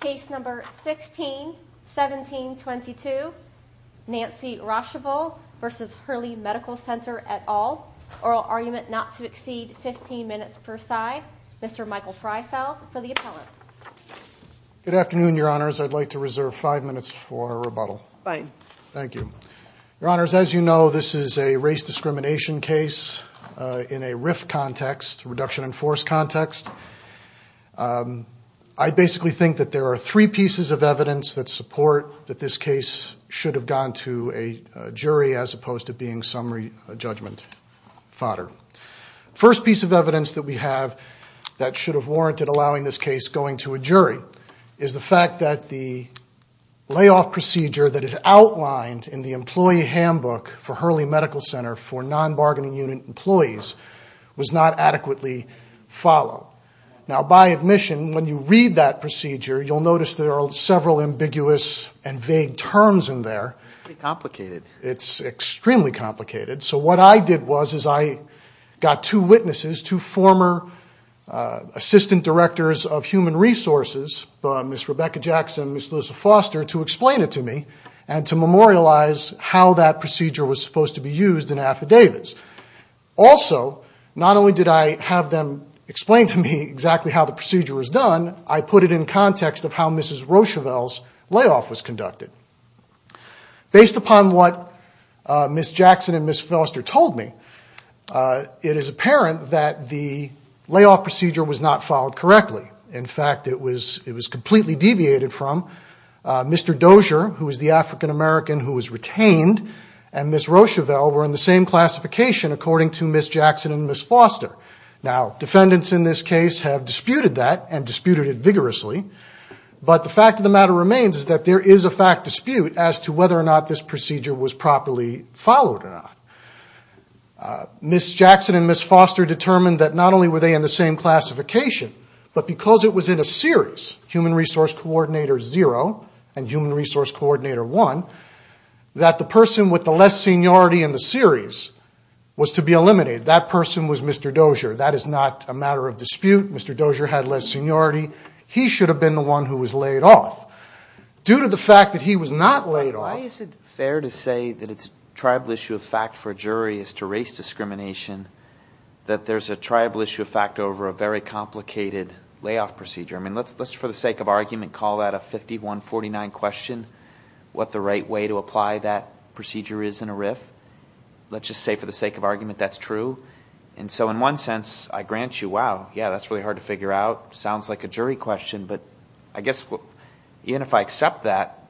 Case number 161722 Nancy Roschival versus Hurley Medical Center et al. Oral argument not to exceed 15 minutes per side. Mr. Michael Freifel for the appellant. Good afternoon, your honors. I'd like to reserve five minutes for rebuttal. Fine. Thank you. Your honors, as you know, this is a race discrimination case in a RIF context, reduction in force context. I basically think that there are three pieces of evidence that support that this case should have gone to a jury as opposed to being summary judgment fodder. First piece of evidence that we have that should have warranted allowing this case going to a jury is the fact that the layoff procedure that is outlined in the employee handbook for Hurley Medical Center for non-bargaining unit employees was not adequately followed. Now, by admission, when you read that procedure, you'll notice there are several ambiguous and vague terms in there. It's pretty complicated. So what I did was I got two witnesses, two former assistant directors of human resources, Ms. Rebecca Jackson and Ms. Liz Foster, to explain it to me and to memorialize how that procedure was supposed to be used in affidavits. Also, not only did I have them explain to me exactly how the procedure was done, I put it in context of how Mrs. Roschival's layoff was conducted. Based upon what Ms. Jackson and Ms. Foster told me, it is apparent that the layoff procedure was not followed correctly. In fact, it was completely deviated from Mr. Dozier, who is the African American who was retained, and Ms. Roschival were in the same classification according to Ms. Jackson and Ms. Foster. Now, defendants in this case have disputed that and disputed it vigorously, but the fact of the matter remains is that there is a fact dispute as to whether or not this procedure was properly followed or not. Ms. Jackson and Ms. Foster determined that not only were they in the same classification, but because it was in a series, human resource coordinator zero and human resource coordinator one, that the person with the less seniority in the series was to be eliminated. That person was Mr. Dozier. That is not a matter of dispute. Mr. Dozier had less seniority. He should have been the one who was laid off. Due to the fact that he was not laid off. Why is it fair to say that it's a tribal issue of fact for a jury as to race discrimination that there's a tribal issue of fact over a very complicated layoff procedure? I mean, let's, for the sake of argument, call that a 51-49 question, what the right way to apply that procedure is in a RIF. Let's just say for the sake of argument that's true. And so in one sense, I grant you, wow, yeah, that's really hard to figure out. Sounds like a jury question, but I guess even if I accept that,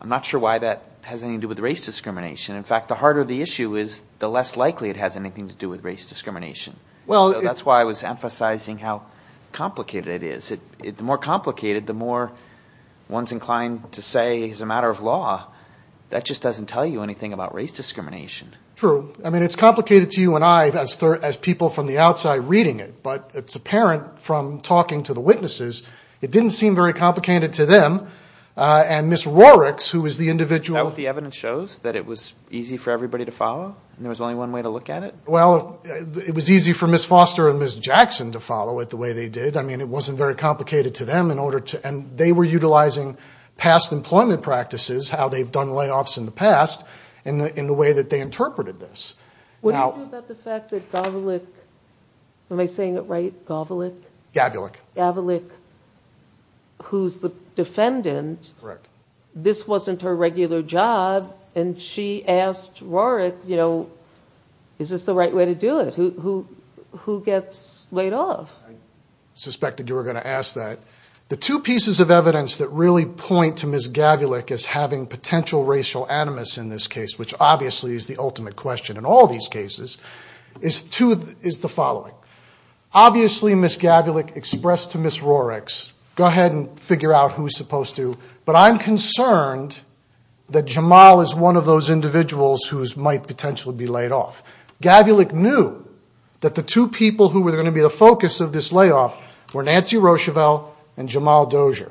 I'm not sure why that has anything to do with race discrimination. In fact, the harder the issue is, the less likely it has anything to do with race discrimination. That's why I was emphasizing how complicated it is. The more complicated, the more one's inclined to say it's a matter of law. That just doesn't tell you anything about race discrimination. True. I mean, it's complicated to you and I as people from the outside reading it, but it's apparent from talking to the witnesses. It didn't seem very complicated to them. And Ms. Roerichs, who was the individual. The evidence shows that it was easy for everybody to follow and there was only one way to look at it? Well, it was easy for Ms. Foster and Ms. Jackson to follow it the way they did. I mean, it wasn't very complicated to them. And they were utilizing past employment practices, how they've done layoffs in the past, in the way that they interpreted this. What do you do about the fact that Gavilek, am I saying it right, Gavilek? Gavilek. Gavilek, who's the defendant. Correct. This wasn't her regular job and she asked Roerich, you know, is this the right way to do it? Who gets laid off? I suspected you were going to ask that. The two pieces of evidence that really point to Ms. Gavilek as having potential racial animus in this case, which obviously is the ultimate question in all these cases, is the following. Obviously, Ms. Gavilek expressed to Ms. Roerichs, go ahead and figure out who's supposed to. But I'm concerned that Jamal is one of those individuals who might potentially be laid off. Gavilek knew that the two people who were going to be the focus of this layoff were Nancy Rochivelle and Jamal Dozier.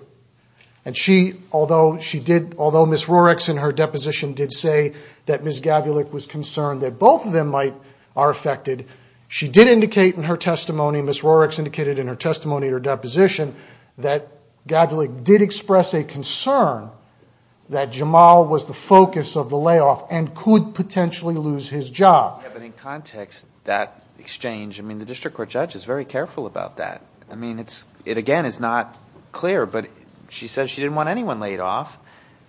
And she, although Ms. Roerichs in her deposition did say that Ms. Gavilek was concerned that both of them might are affected, she did indicate in her testimony, Ms. Roerichs indicated in her testimony in her deposition, that Gavilek did express a concern that Jamal was the focus of the layoff and could potentially lose his job. But in context, that exchange, I mean, the district court judge is very careful about that. I mean, it again is not clear, but she says she didn't want anyone laid off.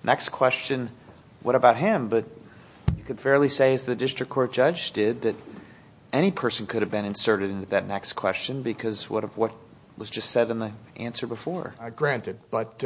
Next question, what about him? But you could fairly say, as the district court judge did, that any person could have been inserted into that next question because of what was just said in the answer before. Granted, but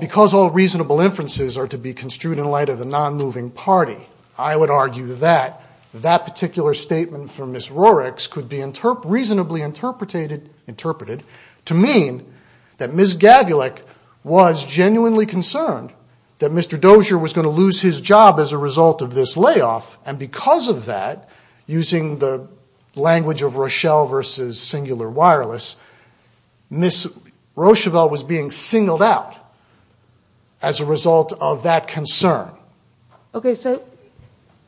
because all reasonable inferences are to be construed in light of the non-moving party, I would argue that that particular statement from Ms. Roerichs could be reasonably interpreted to mean that Ms. Gavilek was genuinely concerned that Mr. Dozier was going to lose his job as a result of this layoff, and because of that, using the language of Rochelle versus singular wireless, Ms. Rochevelle was being singled out as a result of that concern. Okay, so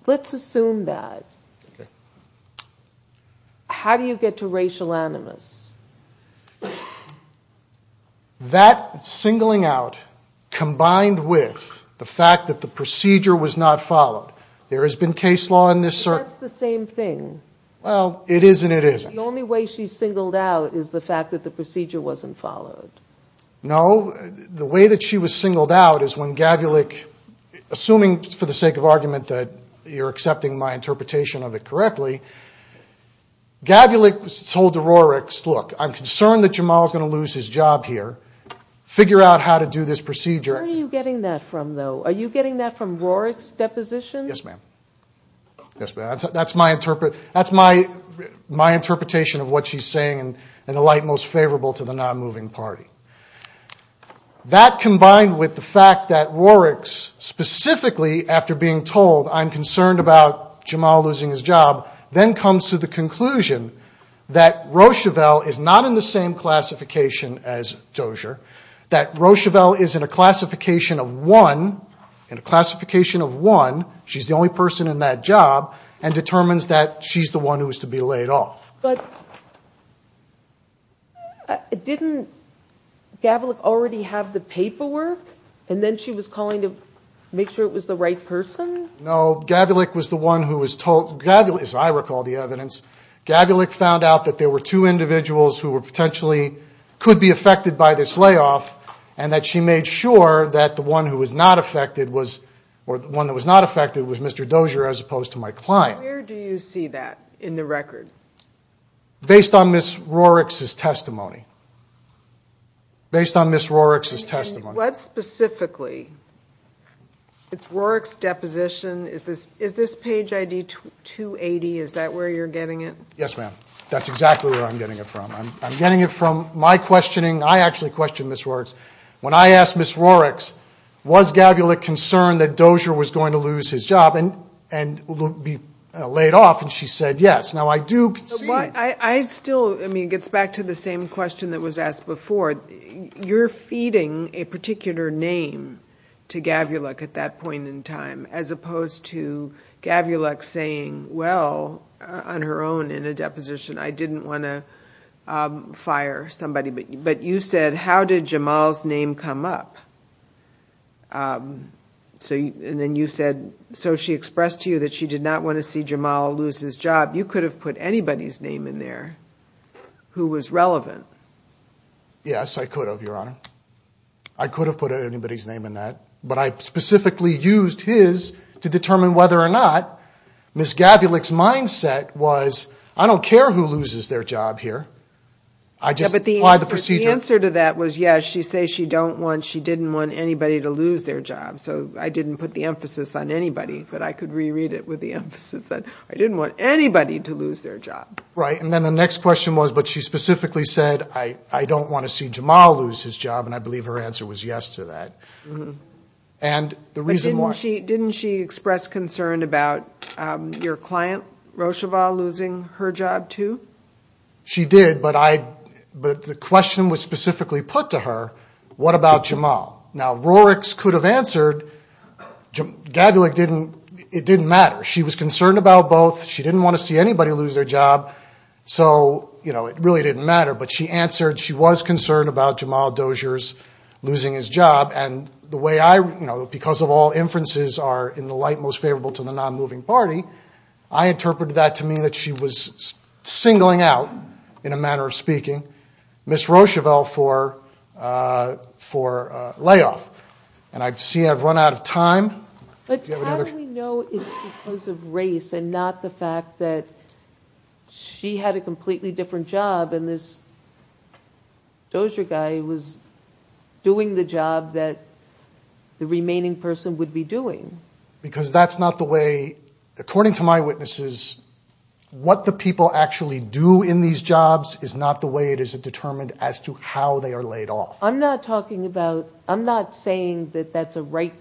let's assume that. How do you get to racial animus? That singling out combined with the fact that the procedure was not followed. There has been case law in this certain... But that's the same thing. Well, it is and it isn't. The only way she's singled out is the fact that the procedure wasn't followed. No, the way that she was singled out is when Gavilek, assuming for the sake of argument that you're accepting my interpretation of it correctly, Gavilek told to Roerichs, look, I'm concerned that Jamal's going to lose his job here. Figure out how to do this procedure. Where are you getting that from, though? Are you getting that from Roerichs' deposition? Yes, ma'am. That's my interpretation of what she's saying in the light most favorable to the non-moving party. That combined with the fact that Roerichs, specifically after being told I'm concerned about Jamal losing his job, then comes to the conclusion that Rochevelle is not in the same classification as Dozier, that Rochevelle is in a classification of one. In a classification of one, she's the only person in that job and determines that she's the one who is to be laid off. But didn't Gavilek already have the paperwork? And then she was calling to make sure it was the right person? No, Gavilek was the one who was told, as I recall the evidence, Gavilek found out that there were two individuals who were potentially, could be affected by this layoff, and that she made sure that the one who was not affected was Mr. Dozier as opposed to my client. Where do you see that in the record? Based on Ms. Roerichs' testimony. Based on Ms. Roerichs' testimony. And what specifically? It's Roerichs' deposition. Is this page ID 280? Is that where you're getting it? Yes, ma'am. That's exactly where I'm getting it from. I'm getting it from my questioning. I actually questioned Ms. Roerichs. When I asked Ms. Roerichs, was Gavilek concerned that Dozier was going to lose his job and be laid off, and she said yes. Now, I do see it. I still, I mean, it gets back to the same question that was asked before. You're feeding a particular name to Gavilek at that point in time, as opposed to Gavilek saying, well, on her own in a deposition, I didn't want to fire somebody. But you said, how did Jamal's name come up? And then you said, so she expressed to you that she did not want to see Jamal lose his job. You could have put anybody's name in there who was relevant. Yes, I could have, Your Honor. I could have put anybody's name in that. But I specifically used his to determine whether or not Ms. Gavilek's mindset was, I don't care who loses their job here. I just apply the procedure. But the answer to that was, yes, she says she didn't want anybody to lose their job. So I didn't put the emphasis on anybody. But I could reread it with the emphasis that I didn't want anybody to lose their job. Right. And then the next question was, but she specifically said, I don't want to see Jamal lose his job. And I believe her answer was yes to that. But didn't she express concern about your client, Rocheval, losing her job too? She did. But the question was specifically put to her, what about Jamal? Now, Roricks could have answered. Gavilek didn't. It didn't matter. She was concerned about both. She didn't want to see anybody lose their job. So, you know, it really didn't matter. But she answered, she was concerned about Jamal Doziers losing his job. And the way I, you know, because of all inferences are in the light most favorable to the non-moving party, I interpreted that to mean that she was singling out, in a manner of speaking, Miss Rocheval for layoff. And I see I've run out of time. But how do we know it's because of race and not the fact that she had a completely different job and this Dozier guy was doing the job that the remaining person would be doing? Because that's not the way, according to my witnesses, what the people actually do in these jobs is not the way it is determined as to how they are laid off. I'm not talking about, I'm not saying that that's a right,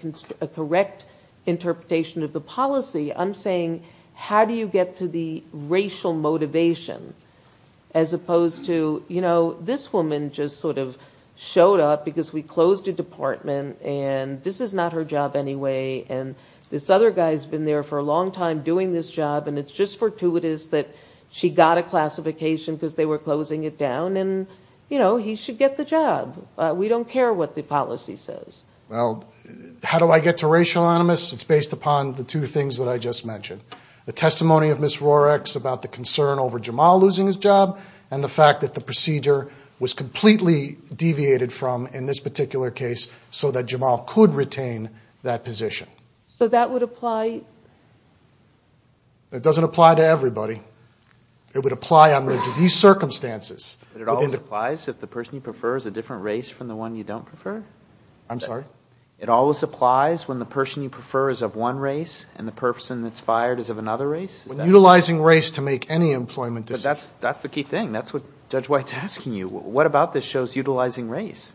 a correct interpretation of the policy. I'm saying how do you get to the racial motivation as opposed to, you know, this woman just sort of showed up because we closed a department and this is not her job anyway and this other guy's been there for a long time doing this job and it's just fortuitous that she got a classification because they were closing it down and then, you know, he should get the job. We don't care what the policy says. Well, how do I get to racial animus? It's based upon the two things that I just mentioned. The testimony of Miss Rorex about the concern over Jamal losing his job and the fact that the procedure was completely deviated from in this particular case so that Jamal could retain that position. So that would apply? It doesn't apply to everybody. It would apply under these circumstances. But it always applies if the person you prefer is a different race from the one you don't prefer? I'm sorry? It always applies when the person you prefer is of one race and the person that's fired is of another race? Utilizing race to make any employment decision. But that's the key thing. That's what Judge White's asking you. What about this shows utilizing race?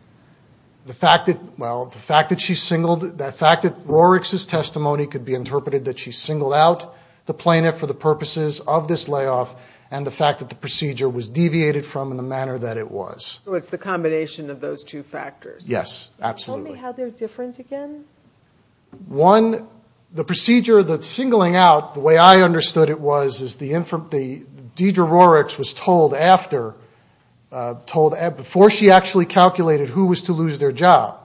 The fact that, well, the fact that she singled, the fact that Rorex's testimony could be interpreted that she singled out the plaintiff for the purposes of this layoff and the fact that the procedure was deviated from in the manner that it was. So it's the combination of those two factors? Yes, absolutely. Tell me how they're different again? One, the procedure, the singling out, the way I understood it was, is Deidre Rorex was told after, before she actually calculated who was to lose their job,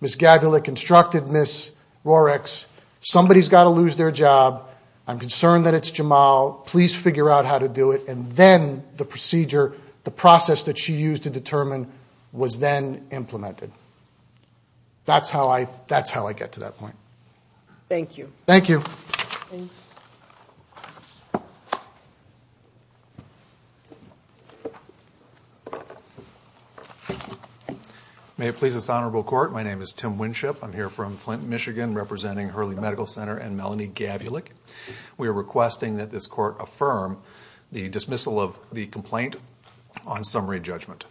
Miss Gabulek instructed Miss Rorex, somebody's got to lose their job, I'm concerned that it's Jamal, please figure out how to do it, and then the procedure, the process that she used to determine, was then implemented. That's how I get to that point. Thank you. Thank you. May it please this Honorable Court, my name is Tim Winship. I'm here from Flint, Michigan, representing Hurley Medical Center and Melanie Gabulek. We are requesting that this Court affirm the dismissal of the complaint on summary judgment.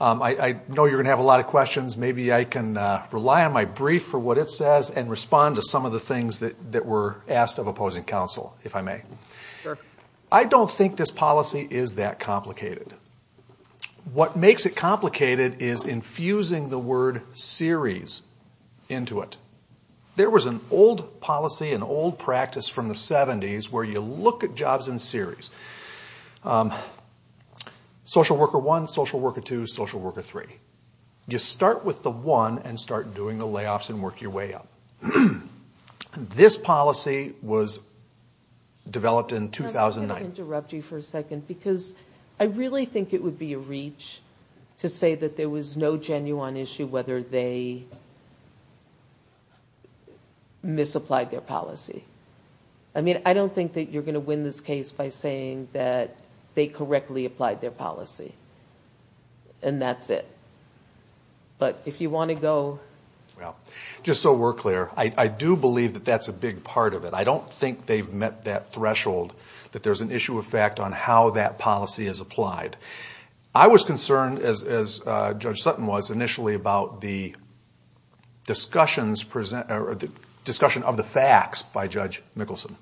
I know you're going to have a lot of questions. Maybe I can rely on my brief for what it says and respond to some of the things that were asked of opposing counsel, if I may. Sure. I don't think this policy is that complicated. What makes it complicated is infusing the word series into it. There was an old policy, an old practice from the 70s, where you look at jobs in series. Social worker one, social worker two, social worker three. You start with the one and start doing the layoffs and work your way up. This policy was developed in 2009. Let me just interrupt you for a second because I really think it would be a reach to say that there was no genuine issue whether they misapplied their policy. I mean, I don't think that you're going to win this case by saying that they correctly applied their policy. And that's it. But if you want to go. Just so we're clear, I do believe that that's a big part of it. I don't think they've met that threshold that there's an issue of fact on how that policy is applied. I was concerned, as Judge Sutton was initially, about the discussion of the facts by Judge Mickelson.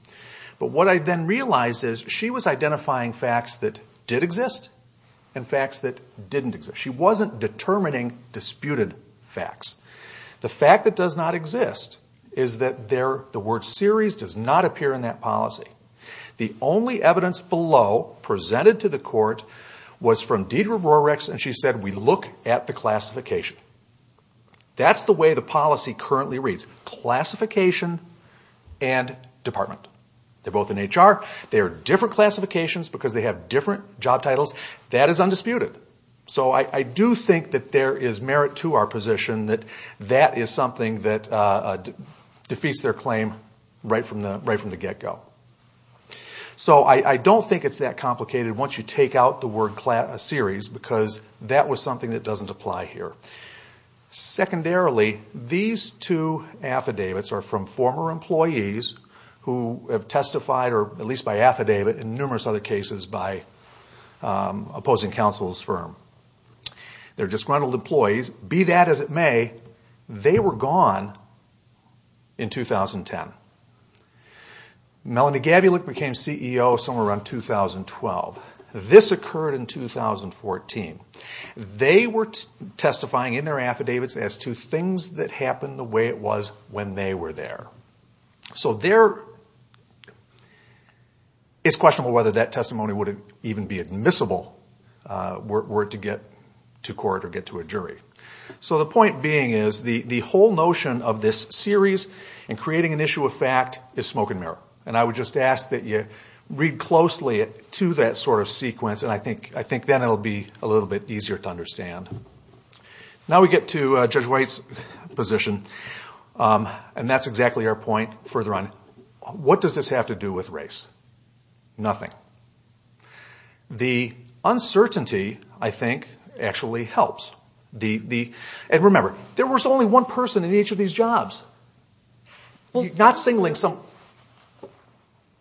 But what I then realized is she was identifying facts that did exist and facts that didn't exist. She wasn't determining disputed facts. The fact that does not exist is that the word series does not appear in that policy. The only evidence below, presented to the court, was from Deidre Rorex, and she said, we look at the classification. That's the way the policy currently reads. Classification and department. They're both in HR. They're different classifications because they have different job titles. That is undisputed. So I do think that there is merit to our position that that is something that defeats their claim right from the get-go. So I don't think it's that complicated once you take out the word series, because that was something that doesn't apply here. Secondarily, these two affidavits are from former employees who have testified, or at least by affidavit in numerous other cases, by opposing counsel's firm. They're disgruntled employees. Be that as it may, they were gone in 2010. Melanie Gabulick became CEO somewhere around 2012. This occurred in 2014. They were testifying in their affidavits as to things that happened the way it was when they were there. So it's questionable whether that testimony would even be admissible were it to get to court or get to a jury. So the point being is the whole notion of this series and creating an issue of fact is smoke and mirror. I would just ask that you read closely to that sort of sequence, and I think then it will be a little bit easier to understand. Now we get to Judge White's position. And that's exactly our point further on. What does this have to do with race? Nothing. The uncertainty, I think, actually helps. And remember, there was only one person in each of these jobs. You're not singling some...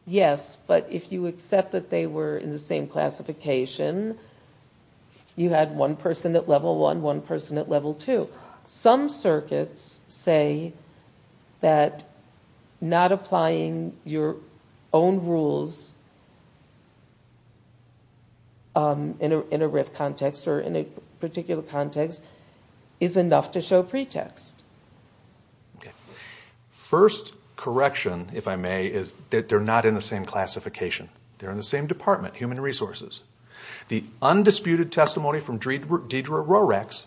Yes, but if you accept that they were in the same classification, you had one person at level one, one person at level two. Some circuits say that not applying your own rules in a RIF context or in a particular context is enough to show pretext. First correction, if I may, is that they're not in the same classification. They're in the same department, Human Resources. The undisputed testimony from Deidre Rorex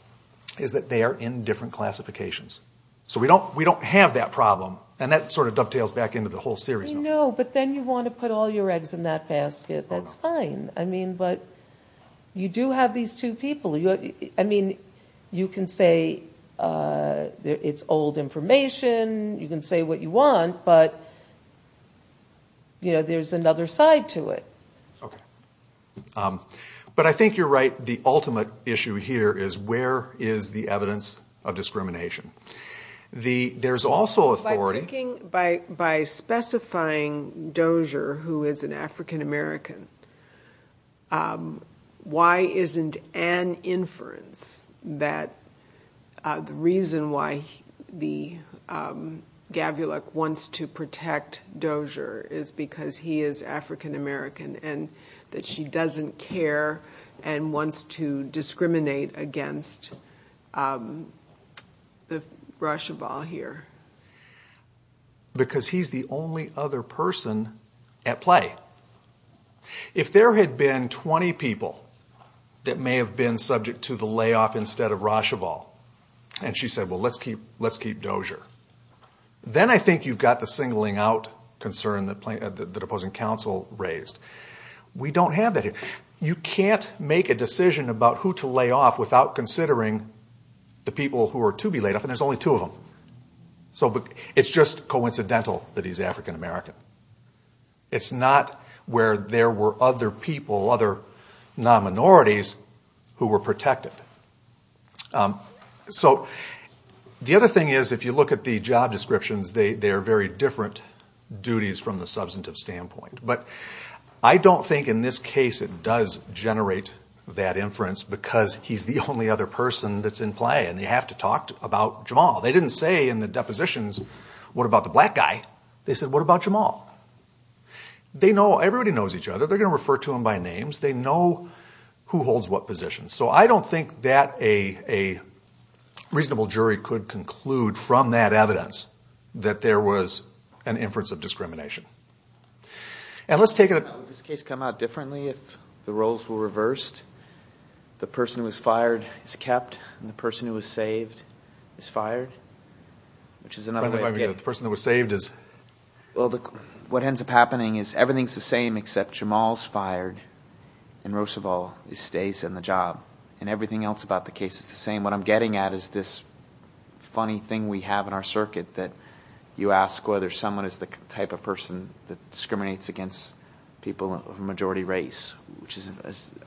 is that they are in different classifications. So we don't have that problem, and that sort of dovetails back into the whole series. No, but then you want to put all your eggs in that basket. That's fine, but you do have these two people. I mean, you can say it's old information. You can say what you want, but there's another side to it. But I think you're right. The ultimate issue here is where is the evidence of discrimination? There's also authority... By specifying Dozier, who is an African-American, why isn't an inference that the reason why the Gavulik wants to protect Dozier is because he is African-American and that she doesn't care and wants to discriminate against Racheval here? Because he's the only other person at play. If there had been 20 people that may have been subject to the layoff instead of Racheval, and she said, well, let's keep Dozier, then I think you've got the singling out concern that opposing counsel raised. We don't have that here. You can't make a decision about who to lay off without considering the people who are to be laid off, and there's only two of them. It's just coincidental that he's African-American. It's not where there were other people, other non-minorities, who were protected. The other thing is, if you look at the job descriptions, they are very different duties from the substantive standpoint. But I don't think in this case it does generate that inference because he's the only other person that's in play, and you have to talk about Jamal. They didn't say in the depositions, what about the black guy? They said, what about Jamal? Everybody knows each other. They're going to refer to him by name. They know who holds what position. So I don't think that a reasonable jury could conclude from that evidence that there was an inference of discrimination. And let's take a look. Would this case come out differently if the roles were reversed? The person who was fired is kept, and the person who was saved is fired, which is another way to get… The person who was saved is… Well, what ends up happening is everything's the same except Jamal's fired, and Roosevelt stays in the job, and everything else about the case is the same. What I'm getting at is this funny thing we have in our circuit that you ask whether someone is the type of person that discriminates against people of a majority race, which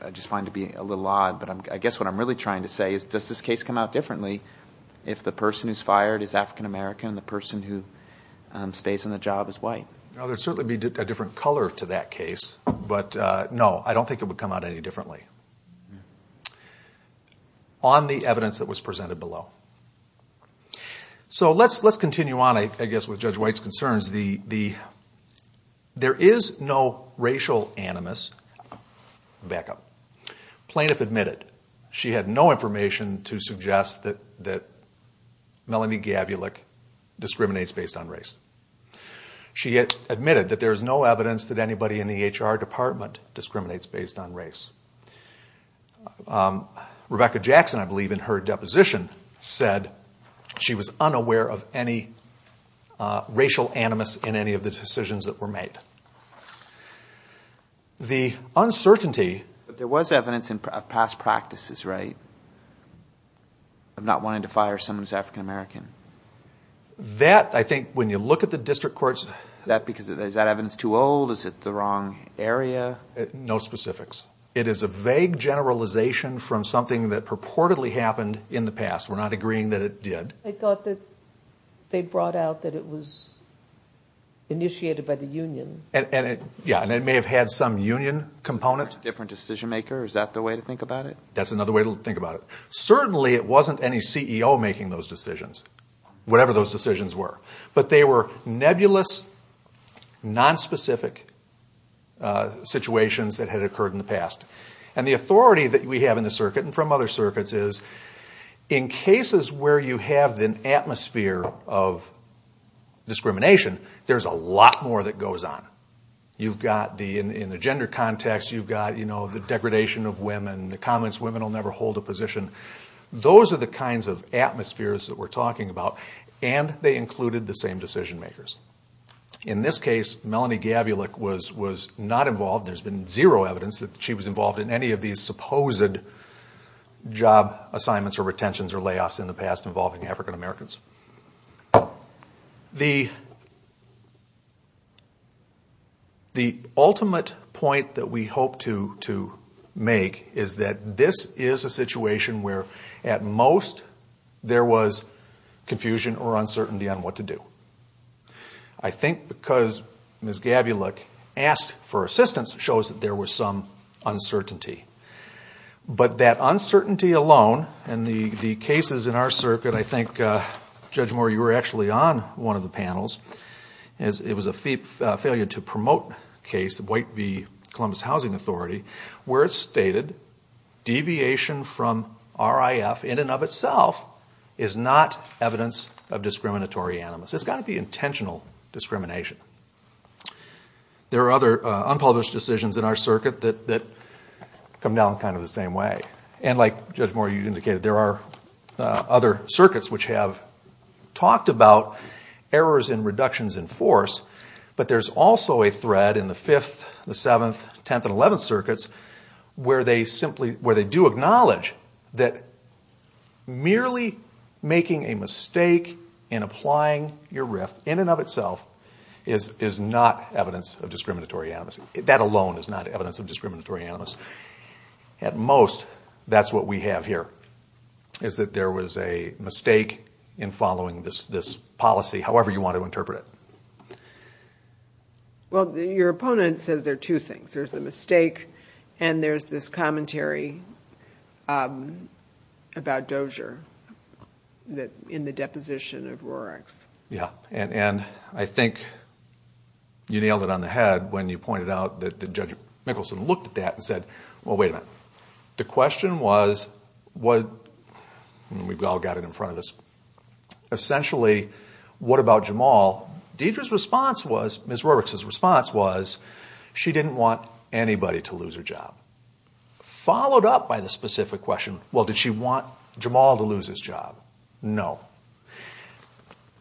I just find to be a little odd. But I guess what I'm really trying to say is, does this case come out differently if the person who's fired is African American and the person who stays in the job is white? There would certainly be a different color to that case, but no, I don't think it would come out any differently on the evidence that was presented below. So let's continue on, I guess, with Judge White's concerns. There is no racial animus. Back up. Plaintiff admitted she had no information to suggest that Melanie Gavulik discriminates based on race. She admitted that there is no evidence that anybody in the HR department discriminates based on race. Rebecca Jackson, I believe in her deposition, said she was unaware of any racial animus in any of the decisions that were made. The uncertainty... But there was evidence of past practices, right? Of not wanting to fire someone who's African American. That, I think, when you look at the district courts... Is that evidence too old? Is it the wrong area? No specifics. It is a vague generalization from something that purportedly happened in the past. We're not agreeing that it did. They thought that they brought out that it was initiated by the union. Yeah, and it may have had some union component. Different decision maker, is that the way to think about it? That's another way to think about it. Certainly, it wasn't any CEO making those decisions. Whatever those decisions were. But they were nebulous, non-specific situations that had occurred in the past. And the authority that we have in the circuit, and from other circuits, is in cases where you have an atmosphere of discrimination, there's a lot more that goes on. In the gender context, you've got the degradation of women, and in the comments, women will never hold a position. Those are the kinds of atmospheres that we're talking about, and they included the same decision makers. In this case, Melanie Gavulik was not involved. There's been zero evidence that she was involved in any of these supposed job assignments or retentions or layoffs in the past involving African Americans. The ultimate point that we hope to make is that this is a situation where, at most, there was confusion or uncertainty on what to do. I think because Ms. Gavulik asked for assistance, shows that there was some uncertainty. But that uncertainty alone, and the cases in our circuit, I think, Judge Moore, you were actually on one of the panels. It was a failure to promote a case, the White v. Columbus Housing Authority, where it stated deviation from RIF in and of itself is not evidence of discriminatory animus. It's got to be intentional discrimination. There are other unpublished decisions in our circuit that come down kind of the same way. And like Judge Moore, you indicated, there are other circuits which have talked about errors and reductions in force, but there's also a thread in the 5th, 7th, 10th, and 11th circuits where they do acknowledge that merely making a mistake in applying your RIF in and of itself is not evidence of discriminatory animus. That alone is not evidence of discriminatory animus. At most, that's what we have here, is that there was a mistake in following this policy, however you want to interpret it. Well, your opponent says there are two things. There's the mistake and there's this commentary about Dozier in the deposition of Rorik's. Yeah, and I think you nailed it on the head when you pointed out that Judge Mickelson looked at that and said, well, wait a minute. The question was, and we've all got it in front of us, essentially, what about Jamal? Deidre's response was, Ms. Rorik's response was, she didn't want anybody to lose her job. Followed up by the specific question, well, did she want Jamal to lose his job? No.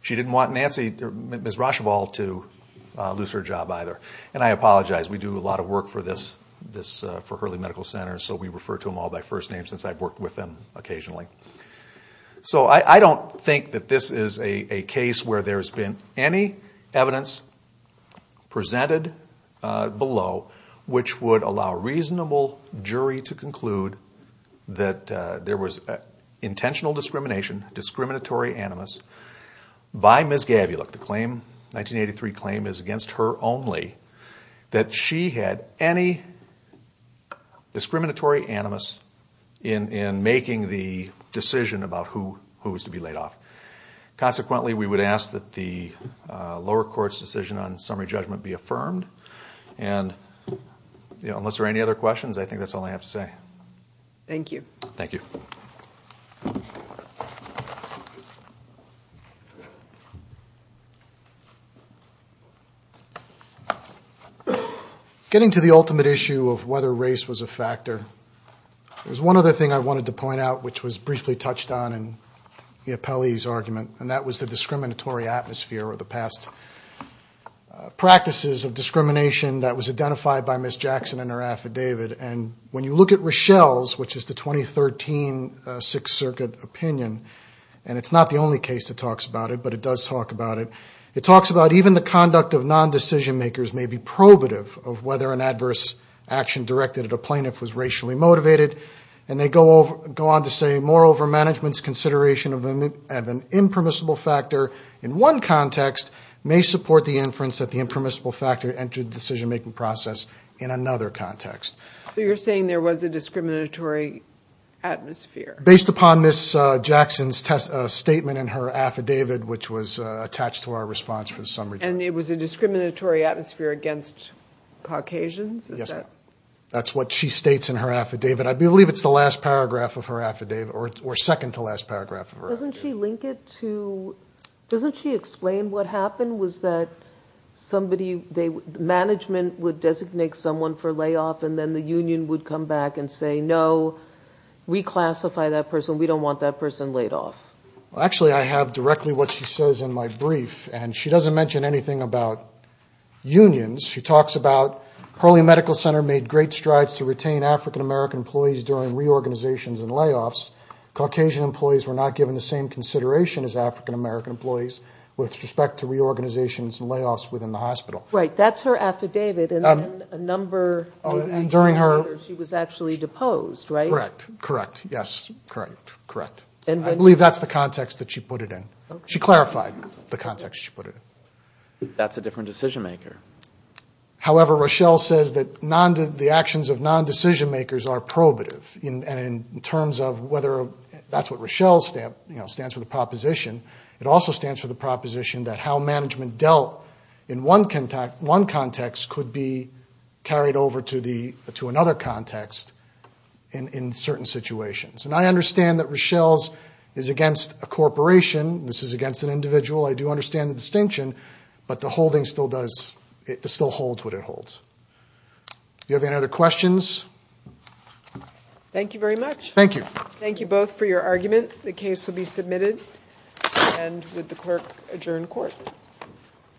She didn't want Ms. Rocheval to lose her job either. And I apologize, we do a lot of work for Hurley Medical Center, so we refer to them all by first name since I've worked with them occasionally. So I don't think that this is a case where there's been any evidence presented below which would allow a reasonable jury to conclude that there was intentional discrimination, discriminatory animus, by Ms. Gavulik. The 1983 claim is against her only, that she had any discriminatory animus in making the decision about who was to be laid off. Consequently, we would ask that the lower court's decision on summary judgment be affirmed and unless there are any other questions, I think that's all I have to say. Thank you. Thank you. Getting to the ultimate issue of whether race was a factor, there's one other thing I wanted to point out which was briefly touched on in the appellee's argument, and that was the discriminatory atmosphere or the past practices of discrimination that was identified by Ms. Jackson in her affidavit. And when you look at Rochelle's, which is the 2013 Sixth Circuit opinion, and it's not the only case that talks about it, but it does talk about it, it talks about even the conduct of non-decision makers may be probative of whether an adverse action directed at a plaintiff was racially motivated. And they go on to say, moreover, management's consideration of an impermissible factor in one context may support the inference that the impermissible factor entered the decision-making process in another context. So you're saying there was a discriminatory atmosphere. Based upon Ms. Jackson's statement in her affidavit, which was attached to our response for the summary judgment. And it was a discriminatory atmosphere against Caucasians? Yes, that's what she states in her affidavit. I believe it's the last paragraph of her affidavit, or second to last paragraph of her affidavit. Doesn't she link it to, doesn't she explain what happened was that somebody, management would designate someone for layoff and then the union would come back and say, no, reclassify that person, we don't want that person laid off. Actually, I have directly what she says in my brief. And she doesn't mention anything about unions. She talks about Hurley Medical Center made great strides to retain African-American employees during reorganizations and layoffs. Caucasian employees were not given the same consideration as African-American employees with respect to reorganizations and layoffs within the hospital. Right, that's her affidavit. And then a number, she was actually deposed, right? Correct, correct, yes, correct, correct. I believe that's the context that she put it in. She clarified the context she put it in. That's a different decision-maker. However, Rochelle says that the actions of non-decision-makers are probative. And in terms of whether that's what Rochelle stands for, the proposition, it also stands for the proposition that how management dealt in one context could be carried over to another context in certain situations. And I understand that Rochelle's is against a corporation, this is against an individual. I do understand the distinction, but the holding still does, it still holds what it holds. Do you have any other questions? Thank you very much. Thank you. Thank you both for your argument. The case will be submitted. And would the clerk adjourn court?